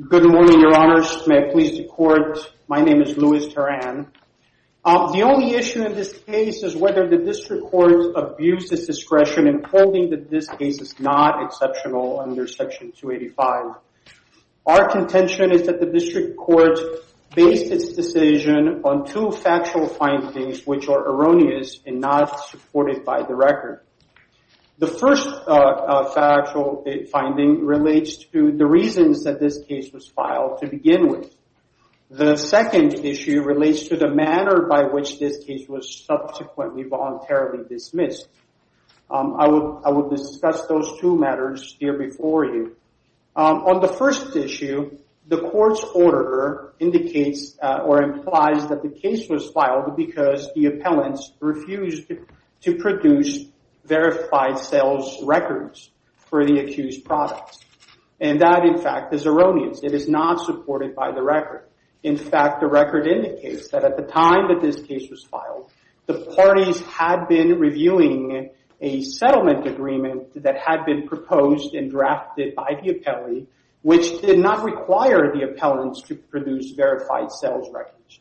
Good morning, your honors. May I please the court, my name is Louis Teran. The only issue in this case is whether the district court abused its discretion in holding that this case is not exceptional under section 285. Our contention is that the district court based its decision on two factual findings which are erroneous and not supported by the record. The first factual finding relates to the reasons that this case was filed to begin with. The second issue relates to the manner by which this case was subsequently voluntarily dismissed. I will discuss those two matters here before you. On the first issue, the court's order indicates or implies that the case was filed because the appellants refused to produce verified sales records for the accused products. And that, in fact, is erroneous. It is not supported by the record. In fact, the record indicates that at the time that this case was filed, the parties had been reviewing a settlement agreement that had been proposed and drafted by the appellee which did not require the appellants to produce verified sales records.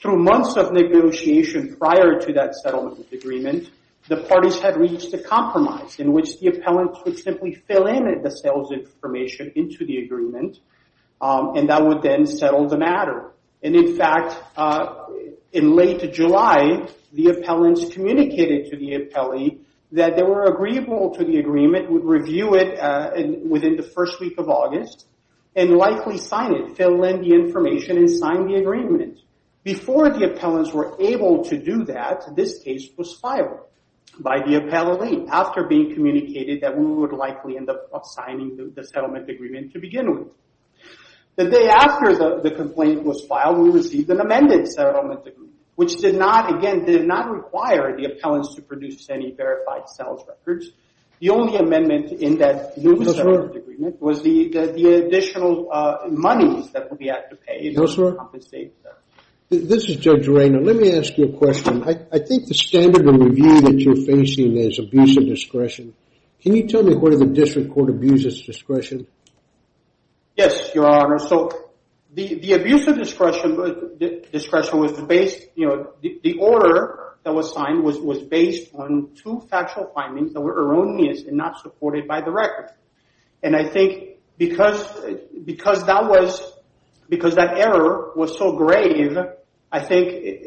Through months of negotiation prior to that settlement agreement, the parties had reached a compromise in which the appellants would simply fill in the sales information into the agreement and that would then settle the matter. And in fact, in late July, the appellants communicated to the appellee that they were agreeable to the agreement, would review it within the first week of August and likely sign it, fill in the information and sign the agreement. Before the appellants were able to do that, this case was filed by the appellee after being communicated that we would likely end up signing the settlement agreement to begin with. The day after the complaint was filed, we received an amended settlement agreement which did not, again, did not require the appellants to produce any verified sales records. The only amendment in that new settlement agreement was the additional money that we had to pay to compensate them. This is Judge Reina. Let me ask you a question. I think the standard of review that you're facing is abuse of discretion. Can you tell me what of the district court abuses discretion? Yes, Your Honor. So the abuse of discretion was based, the order that was signed was based on two factual findings that were erroneous and not supported by the record. And I think because that was, because that error was so grave, I think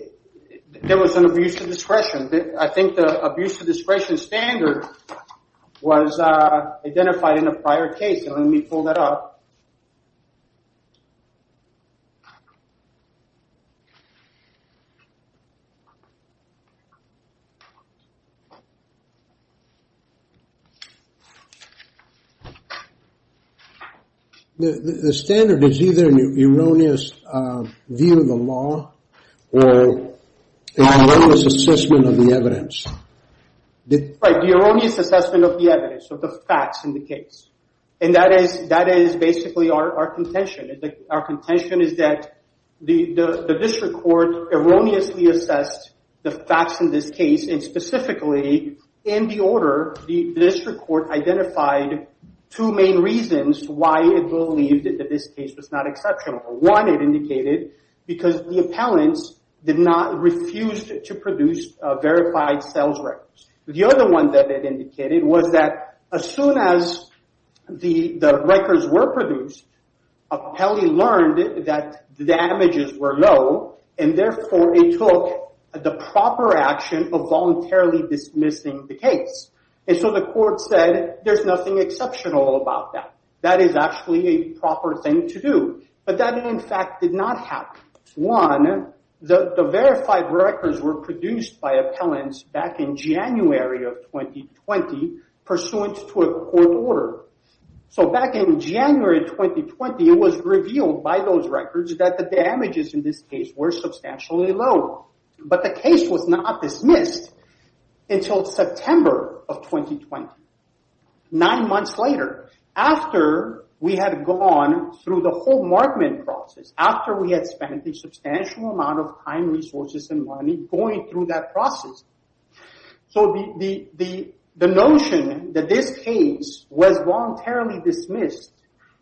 there was an abuse of discretion. I think the abuse of discretion standard was identified in a prior case. Let me pull that up. The standard is either an erroneous view of the law or an erroneous assessment of the evidence. Right, the erroneous assessment of the evidence, of the facts in the case. And that is basically our contention. Our contention is that the district court erroneously assessed the facts in this case and specifically in the order, the district court identified two main reasons why it believed that this case was not exceptional. One, it indicated because the appellants did not refuse to produce verified sales records. The other one that it indicated was that as soon as the records were produced, appellee learned that the damages were low and therefore it took the proper action of voluntarily dismissing the case. And so the court said, there's nothing exceptional about that. That is actually a proper thing to do. But that in fact did not happen. One, the verified records were produced by appellants back in January of 2020 pursuant to a court order. So back in January 2020, it was revealed by those records that the damages in this case were substantially low. But the case was not dismissed until September of 2020. Nine months later, after we had gone through the whole markman process, after we had spent a substantial amount of time, resources and money going through that process. So the notion that this case was voluntarily dismissed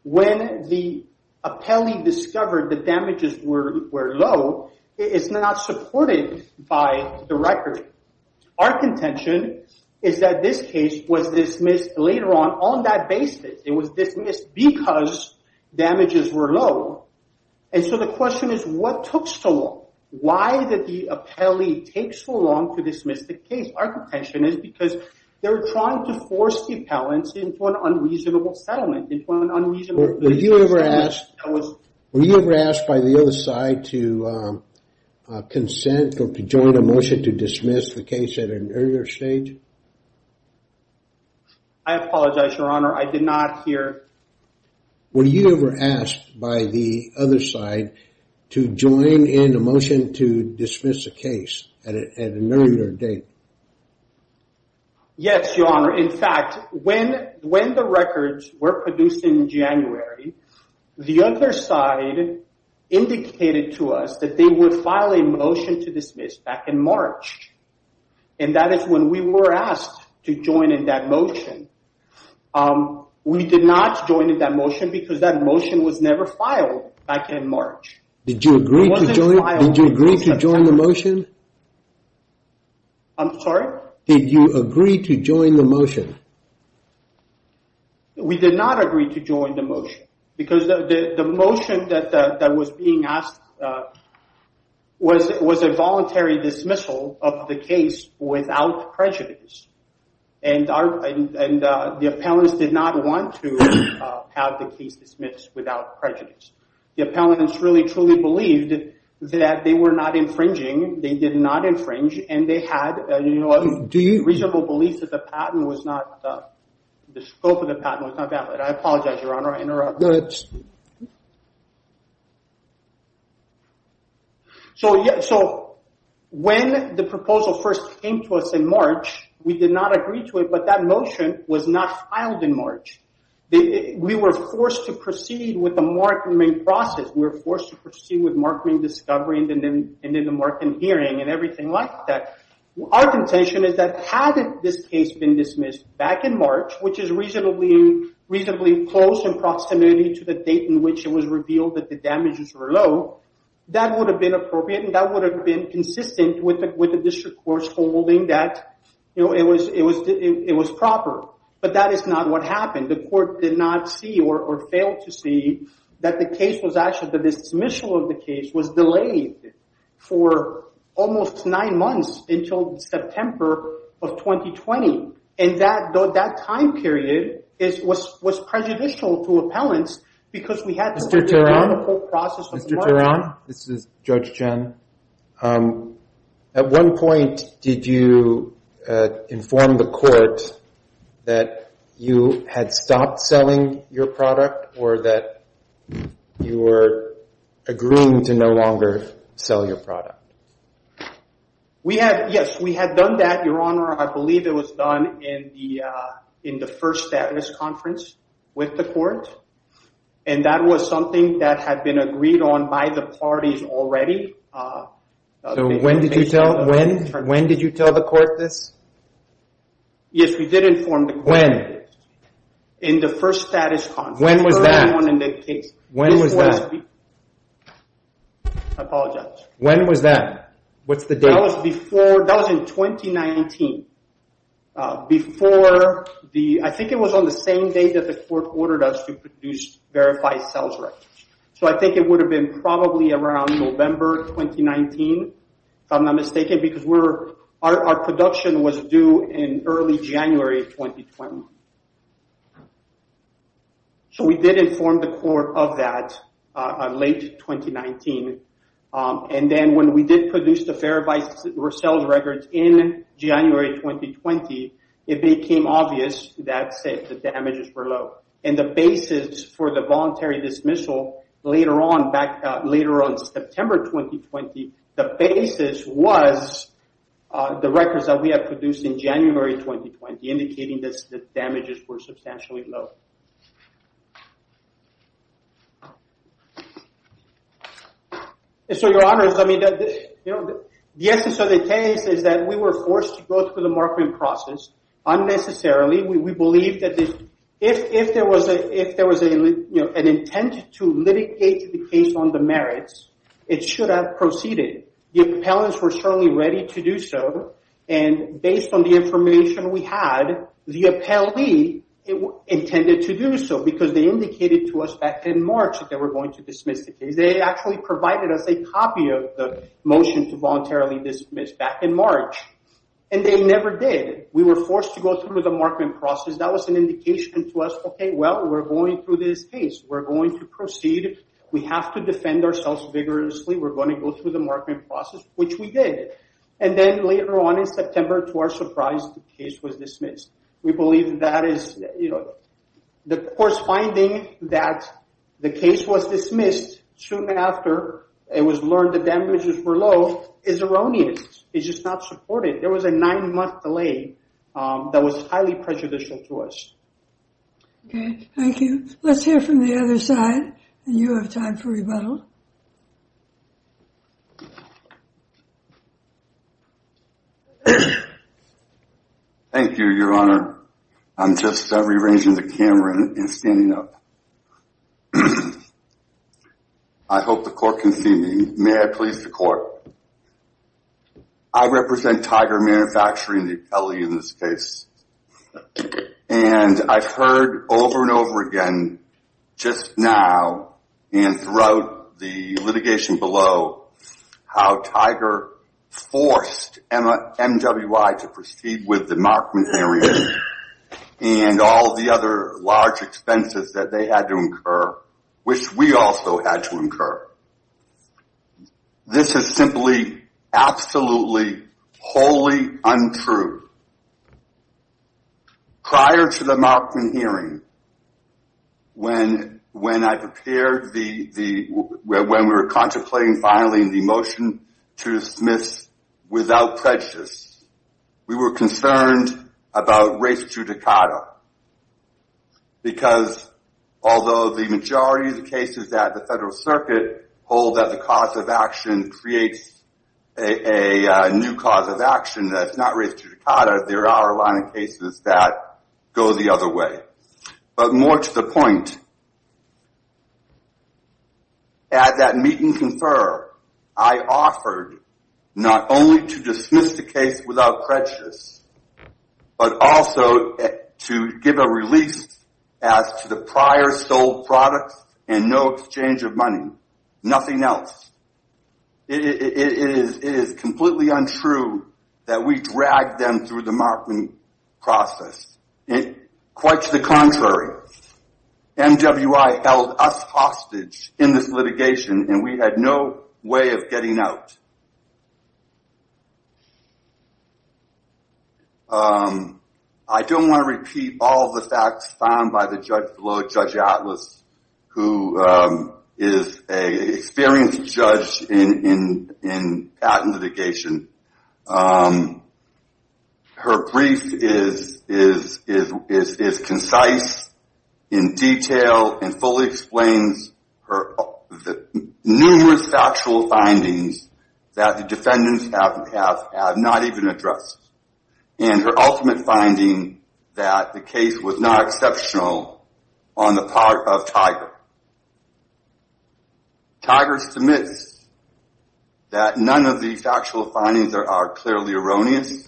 when the appellee discovered the damages were low is not supported by the record. Our contention is that this case was dismissed later on on that basis. It was dismissed because damages were low. And so the question is, what took so long? Why did the appellee take so long to dismiss the case? Our contention is because they're trying to force the appellants into an unreasonable settlement, into an unreasonable- Were you ever asked by the other side to consent or to join a motion to dismiss the case at an earlier stage? I apologize, your honor. I did not hear- Were you ever asked by the other side to join in a motion to dismiss a case at an earlier date? Yes, your honor. In fact, when the records were produced in January, the other side indicated to us that they would file a motion to dismiss back in March. And that is when we were asked to join in that motion. We did not join in that motion because that motion was never filed back in March. Did you agree to join the motion? I'm sorry? Did you agree to join the motion? We did not agree to join the motion because the motion that was being asked was a voluntary dismissal of the case without prejudice. And the appellants did not want to have the case dismissed without prejudice. The appellants really, truly believed that they were not infringing. They did not infringe. And they had a reasonable belief that the patent was not, the scope of the patent was not valid. I apologize, your honor. I interrupted. So when the proposal first came to us in March, we did not agree to it, but that motion was not filed in March. We were forced to proceed with the mark-and-bring process. We were forced to proceed with mark-and-bring discovery and then the mark-and-hearing and everything like that. Our contention is that had this case been dismissed back in March, which is reasonably close in proximity to the date in which it was revealed that the damages were low, that would have been appropriate and that would have been consistent with the district court's holding that it was proper. But that is not what happened. The court did not see or failed to see that the case was actually, that the dismissal of the case was delayed for almost nine months until September of 2020. And that time period was prejudicial to appellants because we had to go through the whole process. Mr. Turan, this is Judge Chen. At one point, did you inform the court that you had stopped selling your product or that you were agreeing to no longer sell your product? We had, yes, we had done that, Your Honor. I believe it was done in the first status conference with the court. And that was something that had been agreed on by the parties already. So when did you tell the court this? Yes, we did inform the court. When? In the first status conference. When was that? When was that? Apologize. When was that? What's the date? That was in 2019, before the, I think it was on the same day that the court ordered us to produce verified sales records. So I think it would have been probably around November 2019, if I'm not mistaken, because our production was due in early January 2020. So we did inform the court of that late 2019. And then when we did produce the verified sales records in January 2020, it became obvious that, say, the damages were low. And the basis for the voluntary dismissal later on, September 2020, the basis was the records that we had produced in January 2020, indicating that the damages were substantially low. So, Your Honor, the essence of the case is that we were forced to go through the marketing process, unnecessarily. We believe that if there was an intent to litigate the case on the merits, it should have proceeded. The appellants were certainly ready to do so. And based on the information we had, the appellee intended to do so, because they indicated to us back in March that they were going to dismiss the case. They actually provided us a copy of the motion to voluntarily dismiss back in March. And they never did. We were forced to go through the marketing process. That was an indication to us, okay, well, we're going through this case. We're going to proceed. We have to defend ourselves vigorously. We're going to go through the marketing process, which we did. And then later on in September, to our surprise, the case was dismissed. We believe that is, you know, the course finding that the case was dismissed soon after it was learned the damages were low is erroneous. It's just not supported. There was a nine-month delay that was highly prejudicial to us. Okay, thank you. Let's hear from the other side. And you have time for rebuttal. Thank you, Your Honor. I'm just rearranging the camera and standing up. I hope the court can see me. May I please the court? I represent Tiger Manufacturing, the appellee in this case. And I've heard over and over again, just now and throughout the litigation below, how Tiger forced MWI to proceed with the Markman area and all the other large expenses that they had to incur, which we also had to incur. This is simply, absolutely, wholly untrue. Prior to the Markman hearing, when I prepared the, when we were contemplating filing the motion to dismiss without prejudice, we were concerned about race judicata. Because although the majority of the cases that the federal circuit hold that the cause of action creates a new cause of action that's not race judicata, there are a lot of cases that go the other way. But more to the point, at that meet and confer, I offered not only to dismiss the case without prejudice, but also to give a release as to the prior sold products and no exchange of money, nothing else. It is completely untrue that we dragged them through the Markman process. Quite to the contrary, MWI held us hostage in this litigation and we had no way of getting out. I don't wanna repeat all the facts found by the judge below, Judge Atlas, who is a experienced judge in patent litigation. Her brief is concise, in detail, and fully explains the numerous factual findings that the defendants have not even addressed. And her ultimate finding that the case was not exceptional on the part of Tiger. Tiger submits that none of the factual findings are clearly erroneous,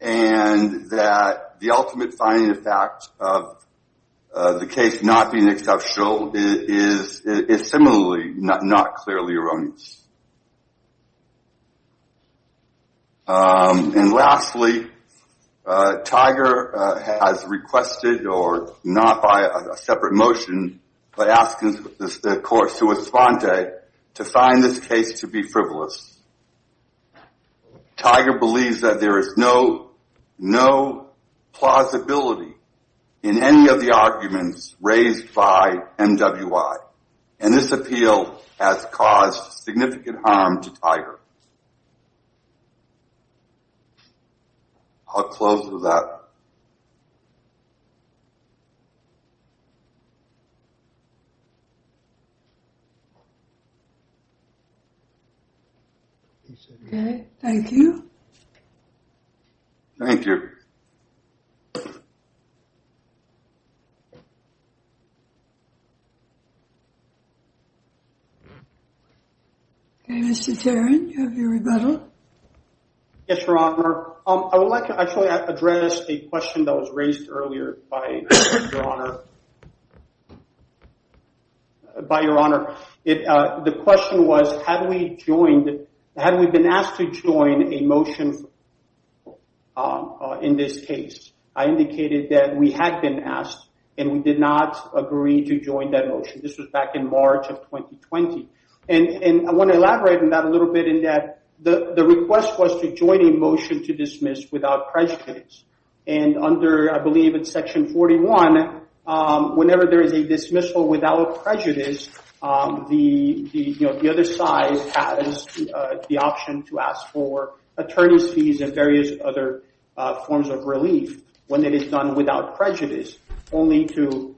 and that the ultimate finding of fact of the case not being exceptional is similarly not clearly erroneous. And lastly, Tiger has requested, or not by a separate motion, but asking the court to respond to it, to find this case to be frivolous. Tiger believes that there is no plausibility in any of the arguments raised by MWI, and this appeal has caused significant harm to Tiger. I'll close with that. Okay, thank you. Thank you. Okay, Mr. Tarrant, do you have your rebuttal? Yes, Your Honor. I would like to actually address a question that was raised earlier by Your Honor. By Your Honor. The question was, had we joined, had we been asked to join a motion in this case? I indicated that we had been asked, and we did not agree to join that motion. This was back in March of 2020. And I want to elaborate on that a little bit in that the request was to join a motion to dismiss without prejudice. And under, I believe it's section 41, whenever there is a dismissal without prejudice, the other side has the option to ask for attorney's fees and various other forms of relief when it is done without prejudice, only to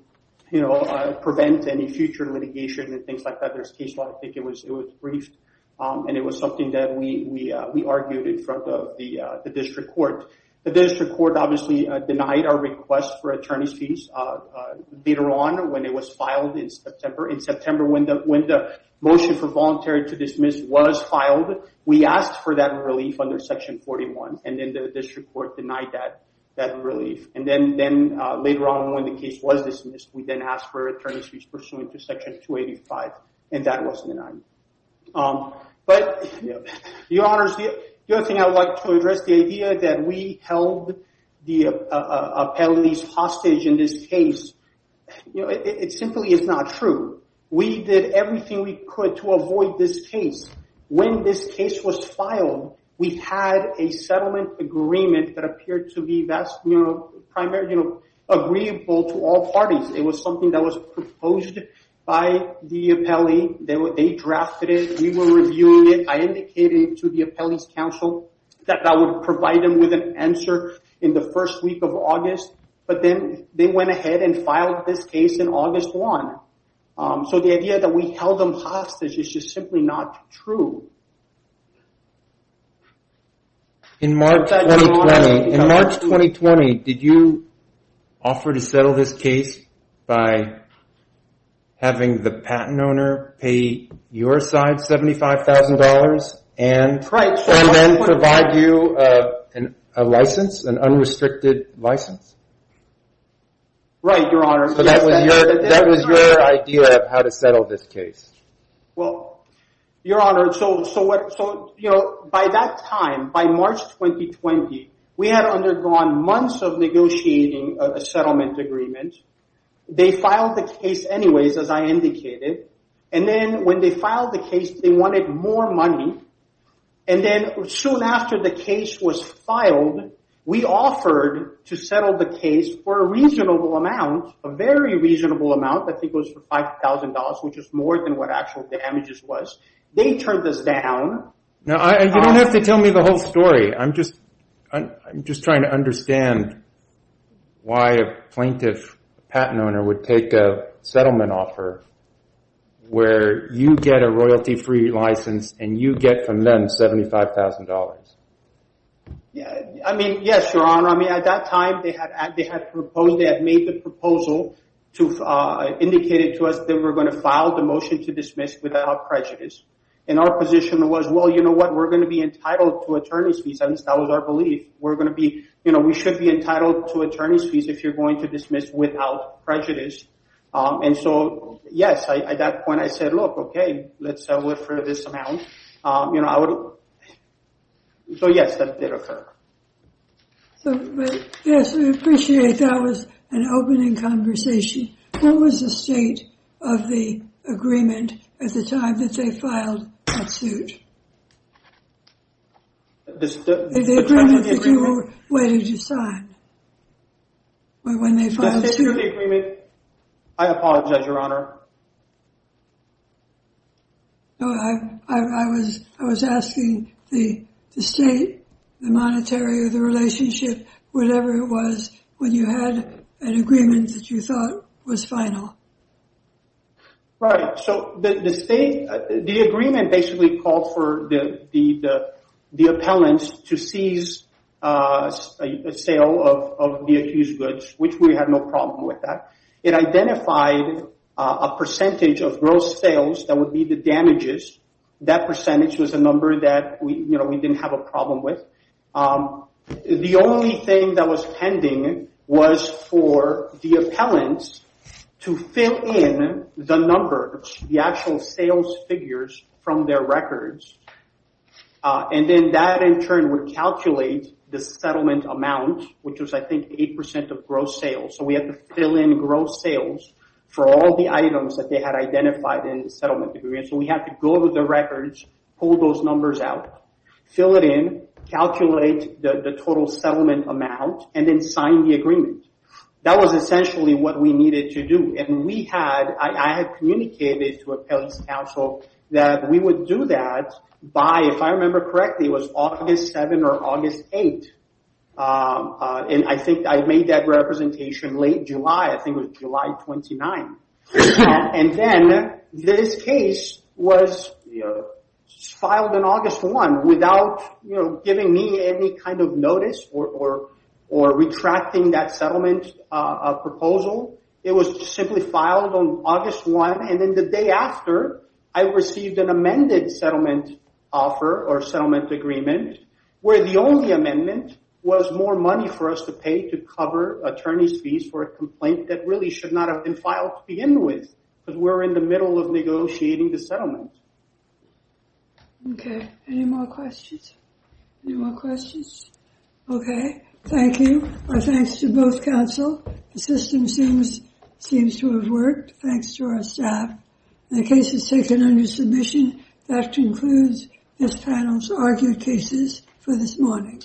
prevent any future litigation and things like that. There's a case where I think it was briefed, and it was something that we argued in front of the district court. The district court obviously denied our request for attorney's fees later on when it was filed in September. In September, when the motion for voluntary to dismiss was filed, we asked for that relief under section 41, and then the district court denied that relief. And then later on when the case was dismissed, we then asked for attorney's fees pursuant to section 285, and that was denied. But your honors, the other thing I would like to address, the idea that we held the appellees hostage in this case, it simply is not true. We did everything we could to avoid this case. When this case was filed, we had a settlement agreement that appeared to be agreeable to all parties. It was something that was proposed by the appellee. They drafted it, we were reviewing it. I indicated to the appellee's counsel that I would provide them with an answer in the first week of August, but then they went ahead and filed this case in August one. So the idea that we held them hostage is just simply not true. In March 2020, did you offer to settle this case by having the patent owner pay your side $75,000 and then provide you a license, an unrestricted license? Right, your honors. So that was your idea of how to settle this case. Well, your honor, it's over. So by that time, by March 2020, we had undergone months of negotiating a settlement agreement. They filed the case anyways, as I indicated. And then when they filed the case, they wanted more money. And then soon after the case was filed, we offered to settle the case for a reasonable amount, a very reasonable amount, I think it was $5,000, which is more than what actual damages was. They turned this down. Now, you don't have to tell me the whole story. I'm just trying to understand why a plaintiff, a patent owner, would take a settlement offer where you get a royalty-free license and you get from them $75,000. Yeah, I mean, yes, your honor. I mean, at that time, they had proposed, they had made the proposal to indicate it to us that we're gonna file the motion to dismiss without prejudice. And our position was, well, you know what? We're gonna be entitled to attorney's fees. I mean, that was our belief. We're gonna be, you know, we should be entitled to attorney's fees if you're going to dismiss without prejudice. And so, yes, at that point, I said, look, okay, let's settle it for this amount. So yes, that did occur. So, yes, we appreciate that was an opening conversation. What was the state of the agreement at the time that they filed that suit? The agreement that you were waiting to sign? When they filed the suit? The state of the agreement? I apologize, your honor. No, I was asking the state, the monetary, or the relationship, whatever it was, when you had an agreement that you thought was final. Right, so the state, the agreement basically called for the appellants to seize a sale of the accused goods, which we had no problem with that. It identified a percentage of gross sales that would be the damages. That percentage was a number that we, you know, we didn't have a problem with. The only thing that was pending was for the appellants to fill in the number, the actual sales figures from their records, and then that, in turn, would calculate the settlement amount, which was, I think, 8% of gross sales. So we had to fill in gross sales for all the items that they had identified in the settlement agreement. So we had to go over the records, pull those numbers out, fill it in, calculate the total settlement amount, and then sign the agreement. That was essentially what we needed to do. And we had, I had communicated to appellant's counsel that we would do that by, if I remember correctly, it was August 7th or August 8th. And I think I made that representation late July. I think it was July 29th. And then this case was filed on August 1st, without giving me any kind of notice or retracting that settlement proposal. It was simply filed on August 1st. And then the day after, I received an amended settlement offer or settlement agreement, where the only amendment was more money for us to pay to cover attorney's fees for a complaint that really should not have been filed to begin with, because we're in the middle of negotiating the settlement. So, okay, any more questions? Any more questions? Okay, thank you. Our thanks to both counsel. The system seems to have worked. Thanks to our staff. The case is taken under submission. That concludes this panel's argued cases for this morning.